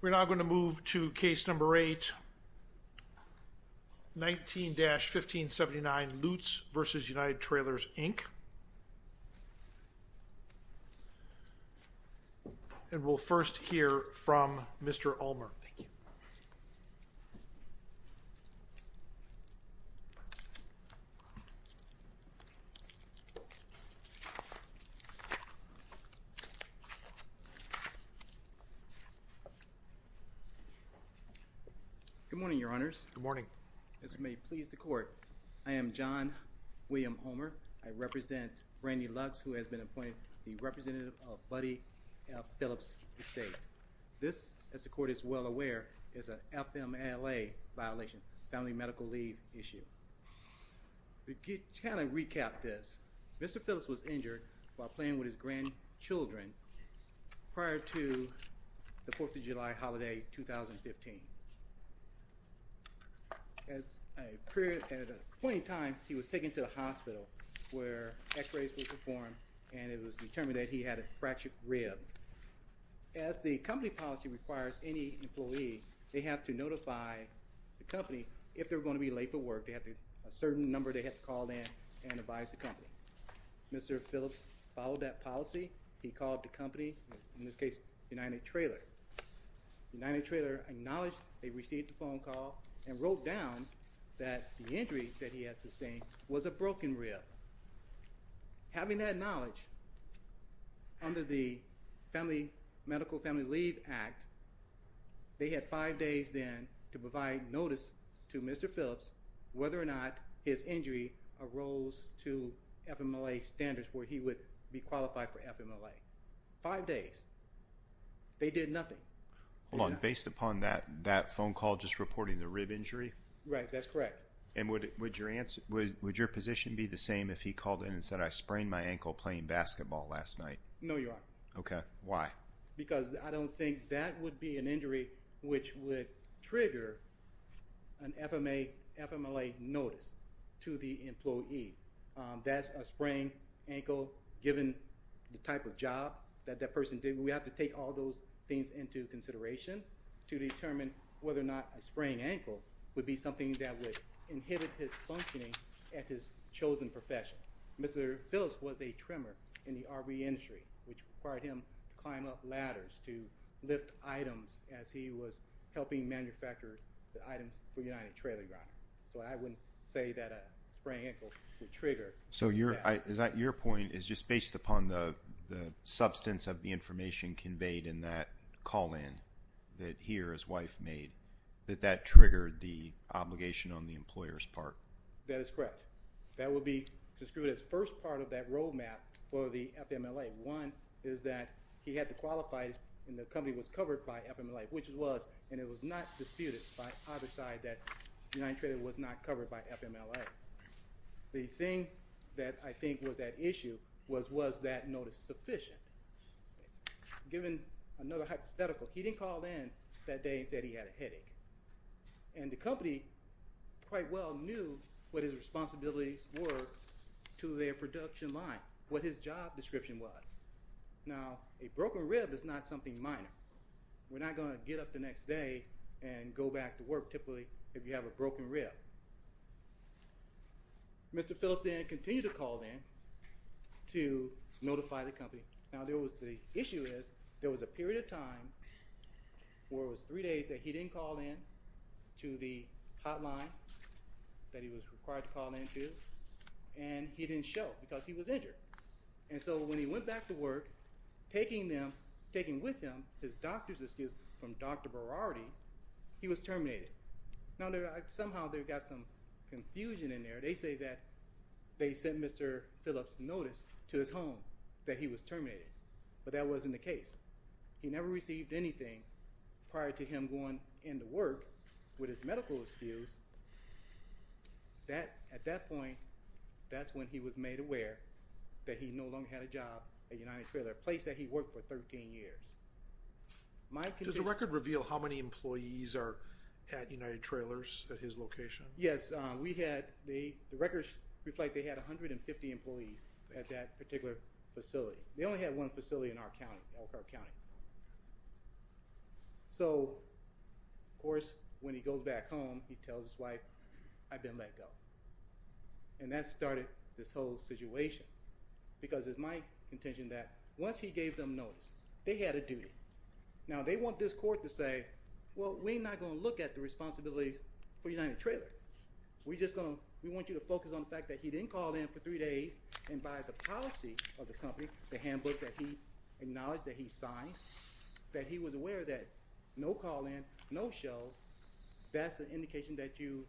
We're now going to move to case number 8, 19-1579 Lutes v. United Trailers, Inc. And we'll first hear from Mr. Ulmer. Good morning, Your Honors. Good morning. As it may please the Court, I am John William Ulmer. I represent Brandi Lutes, who has been appointed the representative of Buddy Phillips' estate. This, as the Court is well aware, is an FMLA violation, family medical leave issue. To kind of recap this, Mr. Phillips was injured while playing with his grandchildren prior to the Fourth of July holiday, 2015. At a point in time, he was taken to the hospital, where x-rays were performed, and it was determined that he had a fractured rib. As the company policy requires any employee, they have to notify the company if they're going to be late for work. They have a certain number they have to call in and advise the company. Mr. Phillips followed that policy. He called the company, in this case, United Trailers. United Trailers acknowledged they received a phone call and wrote down that the injury that he had sustained was a broken rib. Having that knowledge, under the Medical Family Leave Act, they had five days then to provide notice to Mr. Phillips whether or not his injury arose to FMLA standards, where he would be qualified for FMLA. Five days. They did nothing. Hold on. Based upon that phone call just reporting the rib injury? Right. That's correct. And would your position be the same if he called in and said, I sprained my ankle playing basketball last night? No, Your Honor. Okay. Why? Because I don't think that would be an injury which would trigger an FMLA notice to the employee. That's a sprained ankle. Given the type of job that that person did, we have to take all those things into consideration to determine whether or not a sprained ankle would be something that would inhibit his functioning at his chosen profession. Mr. Phillips was a trimmer in the RV industry, which required him to climb up ladders, to lift items as he was helping manufacture the items for United Trailer Ground. I wouldn't say that a sprained ankle would trigger that. So your point is just based upon the substance of the information conveyed in that call-in that he or his wife made, that that triggered the obligation on the employer's part? That is correct. That would be described as the first part of that roadmap for the FMLA. One is that he had to qualify, and the company was covered by FMLA, which it was, and it was not disputed by either side that United Trailer was not covered by FMLA. The thing that I think was at issue was, was that notice sufficient? Given another hypothetical, he didn't call in that day and said he had a headache. And the company quite well knew what his responsibilities were to their production line, what his job description was. Now, a broken rib is not something minor. We're not going to get up the next day and go back to work, typically, if you have a broken rib. Mr. Phillips then continued to call in to notify the company. Now, the issue is there was a period of time where it was three days that he didn't call in to the hotline that he was required to call in to, and he didn't show because he was injured. And so when he went back to work, taking with him his doctor's excuse from Dr. Berardi, he was terminated. Now, somehow they've got some confusion in there. They say that they sent Mr. Phillips' notice to his home that he was terminated, but that wasn't the case. He never received anything prior to him going into work with his medical excuse. At that point, that's when he was made aware that he no longer had a job at United Trailers, a place that he worked for 13 years. Does the record reveal how many employees are at United Trailers, at his location? Yes. The records reflect they had 150 employees at that particular facility. So, of course, when he goes back home, he tells his wife, I've been let go. And that started this whole situation because it's my intention that once he gave them notice, they had a duty. Now, they want this court to say, well, we're not going to look at the responsibility for United Trailers. We just want you to focus on the fact that he didn't call in for three days, and by the policy of the company, the handbook that he acknowledged that he signed, that he was aware that no call in, no show, that's an indication that you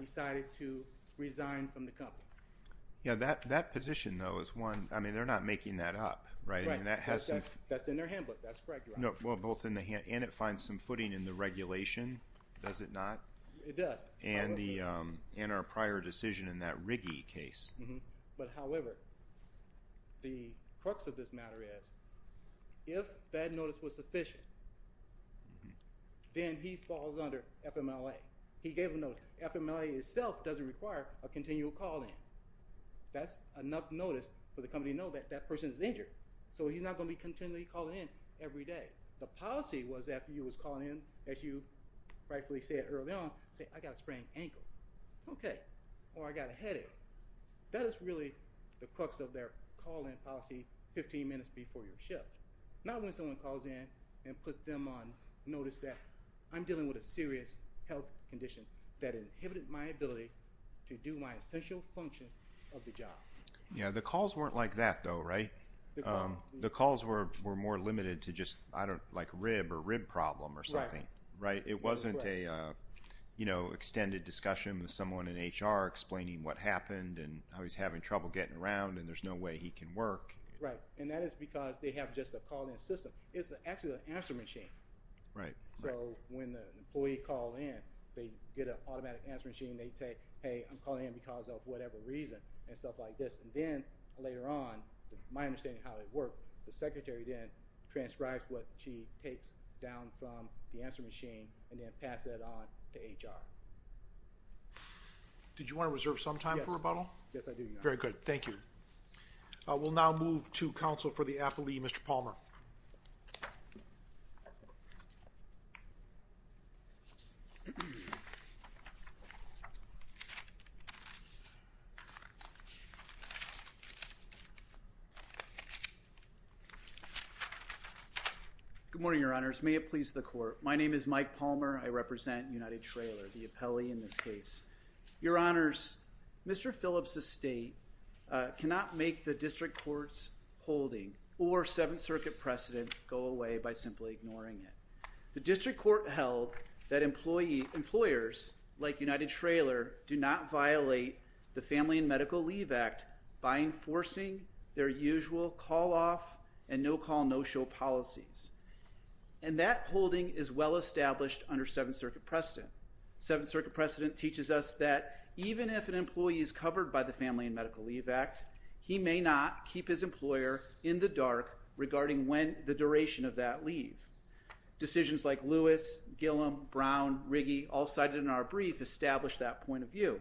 decided to resign from the company. Yeah, that position, though, is one. I mean, they're not making that up, right? Right. That's in their handbook. That's correct, Your Honor. And it finds some footing in the regulation, does it not? It does. And our prior decision in that Riggie case. But, however, the crux of this matter is if that notice was sufficient, then he falls under FMLA. He gave a notice. FMLA itself doesn't require a continual call in. That's enough notice for the company to know that that person is injured. So he's not going to be continually calling in every day. The policy was that if he was calling in, as you rightfully said early on, say, I got a sprained ankle, okay, or I got a headache. That is really the crux of their call in policy 15 minutes before your shift. Not when someone calls in and puts them on notice that I'm dealing with a serious health condition that inhibited my ability to do my essential function of the job. Yeah, the calls weren't like that, though, right? The calls were more limited to just, I don't know, like a rib or rib problem or something. Right. It wasn't an extended discussion with someone in HR explaining what happened and how he's having trouble getting around and there's no way he can work. Right, and that is because they have just a call in system. It's actually an answer machine. Right. So when the employee called in, they get an automatic answer machine. They say, hey, I'm calling in because of whatever reason and stuff like this. And then later on, my understanding of how it worked, the secretary then transcribed what she takes down from the answer machine and then passed that on to HR. Did you want to reserve some time for rebuttal? Yes, I do, Your Honor. Very good. Thank you. We'll now move to counsel for the appellee, Mr. Palmer. Good morning, Your Honors. May it please the court. My name is Mike Palmer. I represent United Trailer, the appellee in this case. Your Honors, Mr. Phillips' estate cannot make the district court's holding or Seventh Circuit precedent go away by simply ignoring it. The district court held that employers like United Trailer do not violate the Family and Medical Leave Act by enforcing their usual call-off and no-call, no-show policies. And that holding is well established under Seventh Circuit precedent. Seventh Circuit precedent teaches us that even if an employee is covered by the Family and Medical Leave Act, he may not keep his employer in the dark regarding the duration of that leave. Decisions like Lewis, Gillum, Brown, Riggi all cited in our brief establish that point of view.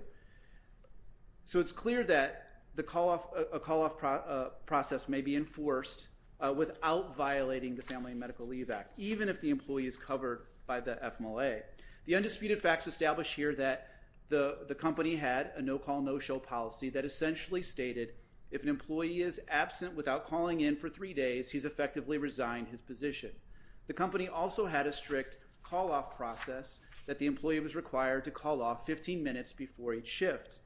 So it's clear that a call-off process may be enforced without violating the Family and Medical Leave Act, even if the employee is covered by the FMLA. The undisputed facts establish here that the company had a no-call, no-show policy that essentially stated if an employee is absent without calling in for three days, he's effectively resigned his position. The company also had a strict call-off process that the employee was required to call off 15 minutes before each shift.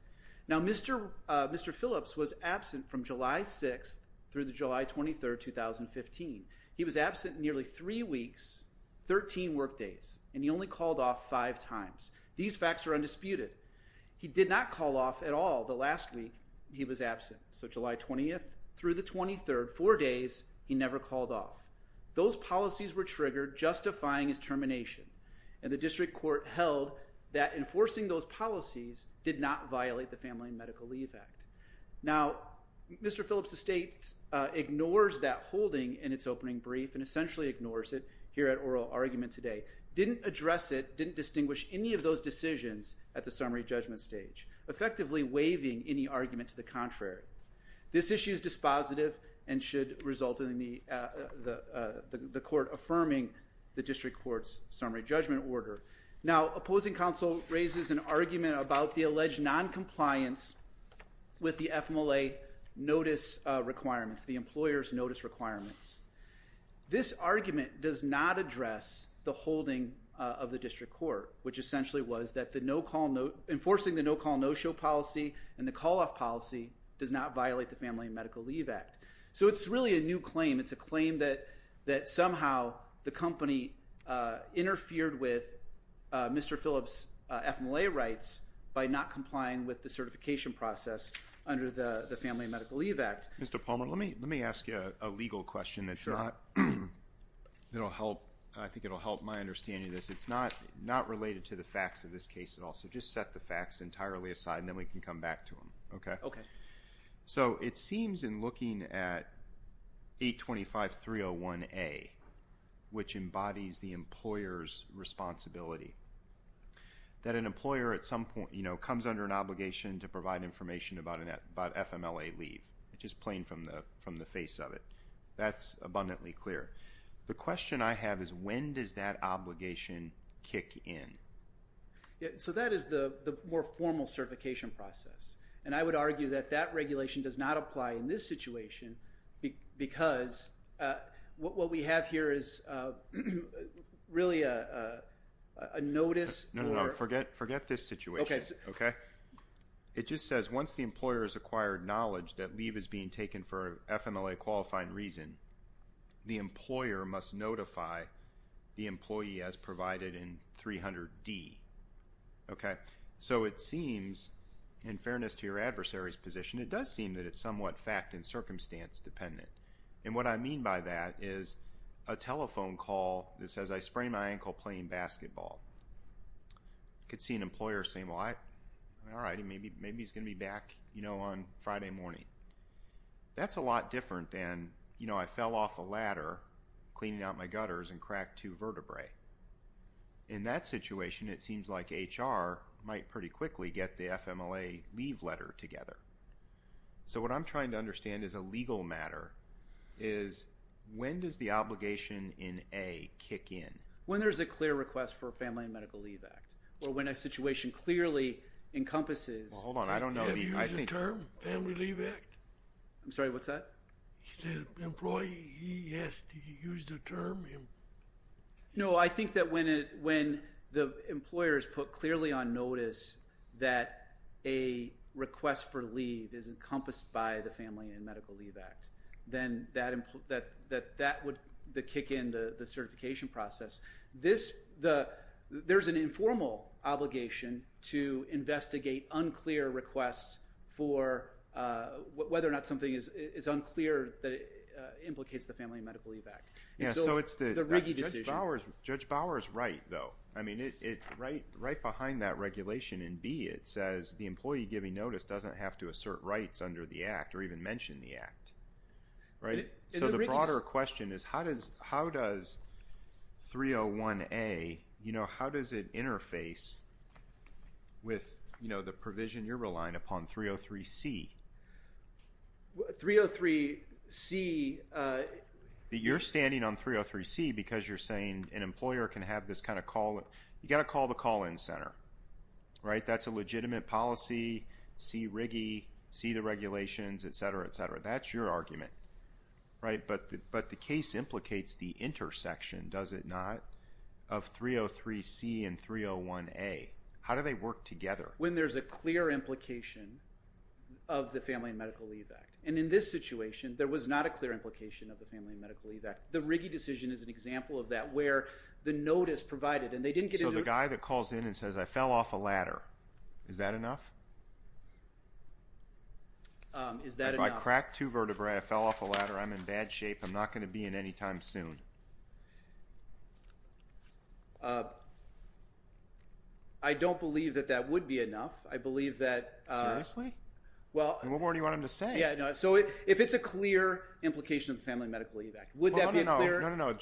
Now, Mr. Phillips was absent from July 6th through the July 23rd, 2015. He was absent nearly three weeks, 13 workdays, and he only called off five times. These facts are undisputed. He did not call off at all the last week he was absent. So July 20th through the 23rd, four days, he never called off. Those policies were triggered, justifying his termination. And the district court held that enforcing those policies did not violate the Family and Medical Leave Act. Now, Mr. Phillips' estate ignores that holding in its opening brief and essentially ignores it here at oral argument today. Didn't address it, didn't distinguish any of those decisions at the summary judgment stage, effectively waiving any argument to the contrary. This issue is dispositive and should result in the court affirming the district court's summary judgment order. Now, opposing counsel raises an argument about the alleged noncompliance with the FMLA notice requirements, the employer's notice requirements. This argument does not address the holding of the district court, which essentially was that the no-call, enforcing the no-call, no-show policy and the call-off policy does not violate the Family and Medical Leave Act. So it's really a new claim. It's a claim that somehow the company interfered with Mr. Phillips' FMLA rights by not complying with the certification process under the Family and Medical Leave Act. Mr. Palmer, let me ask you a legal question that's not – that will help – I think it will help my understanding of this. It's not related to the facts of this case at all, so just set the facts entirely aside and then we can come back to them. Okay? Okay. So it seems in looking at 825.301A, which embodies the employer's responsibility, that an employer at some point comes under an obligation to provide information about FMLA leave, just plain from the face of it. That's abundantly clear. The question I have is when does that obligation kick in? So that is the more formal certification process. And I would argue that that regulation does not apply in this situation because what we have here is really a notice for – No, no, no. Forget this situation. Okay. Okay? It just says once the employer has acquired knowledge that leave is being taken for FMLA qualifying reason, the employer must notify the employee as provided in 300D. Okay? So it seems, in fairness to your adversary's position, it does seem that it's somewhat fact and circumstance dependent. And what I mean by that is a telephone call that says, I sprained my ankle playing basketball. I could see an employer saying, well, all right, maybe he's going to be back, you know, on Friday morning. That's a lot different than, you know, I fell off a ladder cleaning out my gutters and cracked two vertebrae. In that situation, it seems like HR might pretty quickly get the FMLA leave letter together. So what I'm trying to understand as a legal matter is when does the obligation in A kick in? When there's a clear request for a Family and Medical Leave Act or when a situation clearly encompasses – Hold on. I don't know. Have you used the term Family Leave Act? I'm sorry. What's that? The employee, he has to use the term? No. I think that when the employer has put clearly on notice that a request for leave is encompassed by the Family and Medical Leave Act, then that would kick in the certification process. There's an informal obligation to investigate unclear requests for whether or not something is unclear that implicates the Family and Medical Leave Act. So it's the – Judge Bauer is right, though. I mean, right behind that regulation in B, it says the employee giving notice doesn't have to assert rights under the act or even mention the act. So the broader question is how does 301A – how does it interface with the provision you're relying upon, 303C? 303C – You're standing on 303C because you're saying an employer can have this kind of call – you've got to call the call-in center. That's a legitimate policy. See RIGI. See the regulations, et cetera, et cetera. That's your argument, right? But the case implicates the intersection, does it not, of 303C and 301A. How do they work together? When there's a clear implication of the Family and Medical Leave Act. And in this situation, there was not a clear implication of the Family and Medical Leave Act. The RIGI decision is an example of that where the notice provided – So the guy that calls in and says, I fell off a ladder, is that enough? Is that enough? If I crack two vertebrae, I fell off a ladder, I'm in bad shape, I'm not going to be in any time soon. I don't believe that that would be enough. I believe that – Seriously? And what more do you want him to say? So if it's a clear implication of the Family and Medical Leave Act, would that be a clear – No, no, no.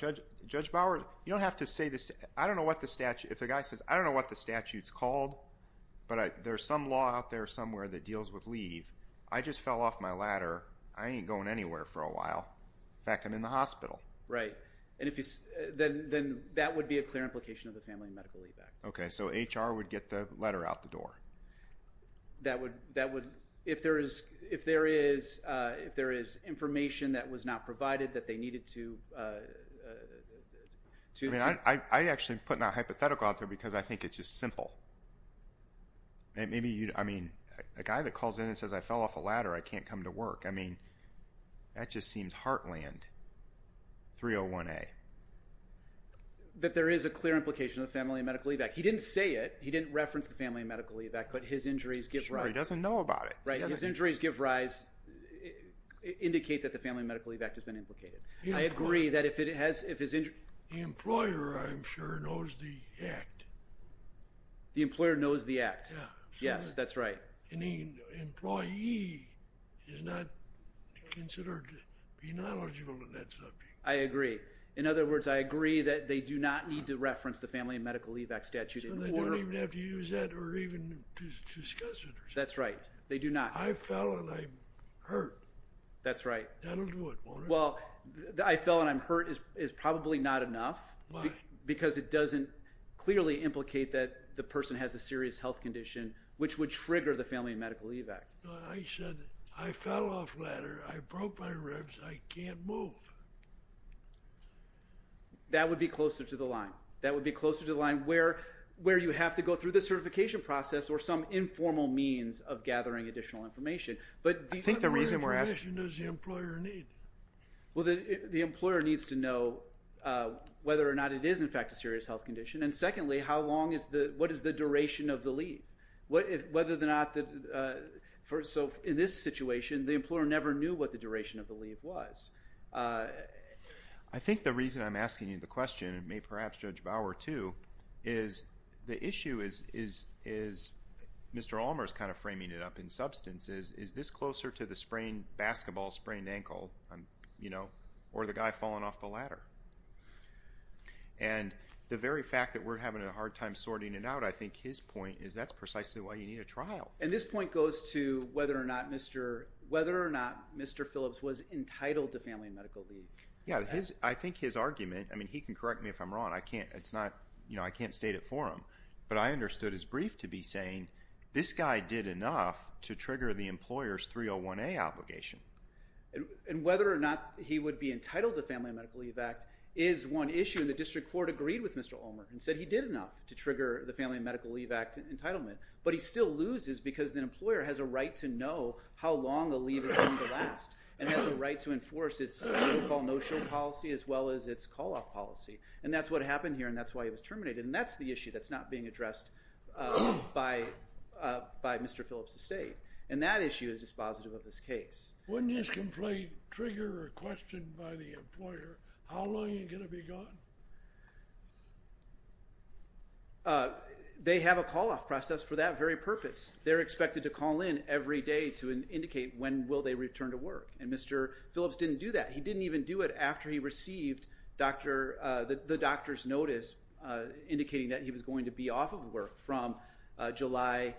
Judge Bauer, you don't have to say this. I don't know what the statute – if the guy says, I don't know what the statute's called, but there's some law out there somewhere that deals with leave. I just fell off my ladder. I ain't going anywhere for a while. In fact, I'm in the hospital. Right. Then that would be a clear implication of the Family and Medical Leave Act. Okay. So HR would get the letter out the door? That would – if there is information that was not provided that they needed to – I'm actually putting a hypothetical out there because I think it's just simple. I mean, a guy that calls in and says, I fell off a ladder, I can't come to work. I mean, that just seems heartland, 301A. That there is a clear implication of the Family and Medical Leave Act. He didn't say it. He didn't reference the Family and Medical Leave Act, but his injuries give rise. Sure, he doesn't know about it. Right. His injuries give rise, indicate that the Family and Medical Leave Act has been implicated. I agree that if it has – The employer, I'm sure, knows the act. The employer knows the act. Yeah. Yes, that's right. And the employee is not considered to be knowledgeable in that subject. I agree. In other words, I agree that they do not need to reference the Family and Medical Leave Act statute. They don't even have to use that or even discuss it. That's right. I fell and I hurt. That's right. That will do it, won't it? Well, I fell and I'm hurt is probably not enough. Why? Because it doesn't clearly implicate that the person has a serious health condition, which would trigger the Family and Medical Leave Act. I said I fell off a ladder. I broke my ribs. I can't move. That would be closer to the line. That would be closer to the line where you have to go through the certification process or some informal means of gathering additional information. I think the reason we're asking – Well, the employer needs to know whether or not it is, in fact, a serious health condition. And secondly, what is the duration of the leave? In this situation, the employer never knew what the duration of the leave was. I think the reason I'm asking you the question, and maybe perhaps Judge Bauer too, is the issue is – Mr. Allmer is kind of framing it up in substance – is this closer to the basketball sprained ankle? Or the guy falling off the ladder? And the very fact that we're having a hard time sorting it out, I think his point is that's precisely why you need a trial. And this point goes to whether or not Mr. Phillips was entitled to Family and Medical Leave. Yeah, I think his argument – I mean, he can correct me if I'm wrong. I can't state it for him. But I understood his brief to be saying, this guy did enough to trigger the employer's 301A obligation. And whether or not he would be entitled to Family and Medical Leave Act is one issue. And the district court agreed with Mr. Allmer and said he did enough to trigger the Family and Medical Leave Act entitlement. But he still loses because the employer has a right to know how long a leave is going to last. And has a right to enforce its so-called no-show policy as well as its call-off policy. And that's what happened here, and that's why he was terminated. And that's the issue that's not being addressed by Mr. Phillips' state. And that issue is dispositive of this case. When this complaint triggered or questioned by the employer, how long are you going to be gone? They have a call-off process for that very purpose. They're expected to call in every day to indicate when will they return to work. And Mr. Phillips didn't do that. He didn't even do it after he received the doctor's notice indicating that he was going to be off of work from July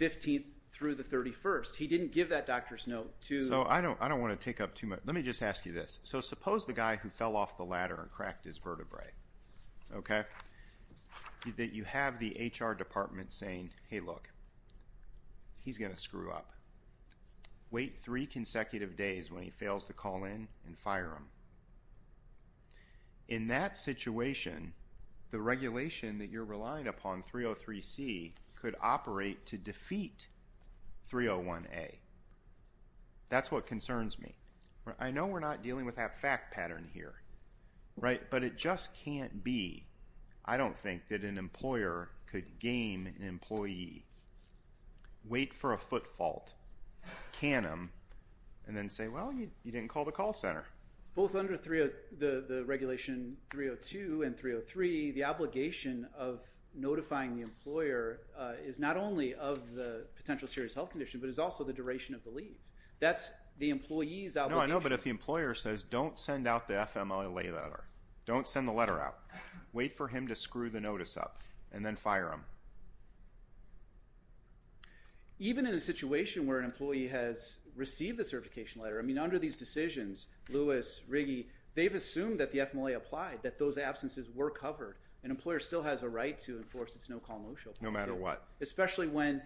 15th through the 31st. He didn't give that doctor's note to... So I don't want to take up too much. Let me just ask you this. So suppose the guy who fell off the ladder and cracked his vertebrae, okay, that you have the HR department saying, hey, look, he's going to screw up. Wait three consecutive days when he fails to call in and fire him. In that situation, the regulation that you're relying upon, 303C, could operate to defeat 301A. That's what concerns me. I know we're not dealing with that fact pattern here, right, but it just can't be. I don't think that an employer could game an employee, wait for a foot fault, can him, and then say, well, you didn't call the call center. Both under the regulation 302 and 303, the obligation of notifying the employer is not only of the potential serious health condition, but is also the duration of the leave. That's the employee's obligation. No, I know, but if the employer says, don't send out the FMLA letter, don't send the letter out, wait for him to screw the notice up, and then fire him. Even in a situation where an employee has received the certification letter, I mean, under these decisions, Lewis, Riggi, they've assumed that the FMLA applied, that those absences were covered. An employer still has a right to enforce its no-call motion. No matter what. Especially when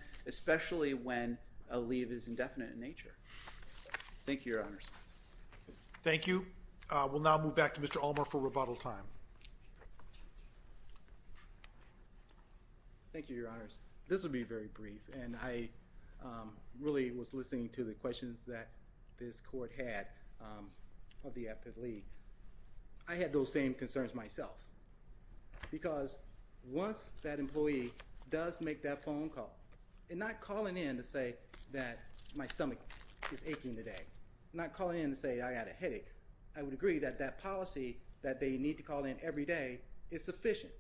a leave is indefinite in nature. Thank you, Your Honors. Thank you. We'll now move back to Mr. Allmar for rebuttal time. Thank you, Your Honors. This will be very brief, and I really was listening to the questions that this court had of the active leave. I had those same concerns myself. Because once that employee does make that phone call, and not calling in to say that my stomach is aching today, not calling in to say I had a headache, I would agree that that policy that they need to call in every day is sufficient.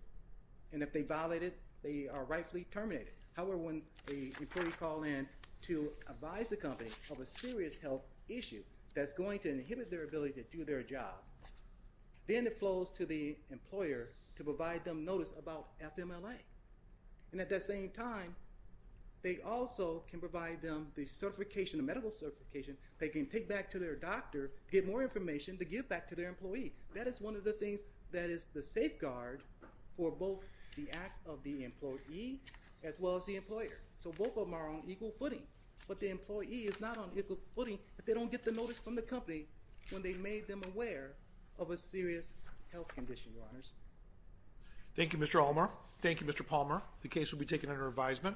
And if they violate it, they are rightfully terminated. However, when the employee calls in to advise the company of a serious health issue, that's going to inhibit their ability to do their job. Then it flows to the employer to provide them notice about FMLA. And at that same time, they also can provide them the certification, the medical certification, they can take back to their doctor, get more information to give back to their employee. That is one of the things that is the safeguard for both the act of the employee as well as the employer. So both of them are on equal footing. But the employee is not on equal footing if they don't get the notice from the company when they made them aware of a serious health condition, Your Honors. Thank you, Mr. Allmar. Thank you, Mr. Palmer. The case will be taken under advisement.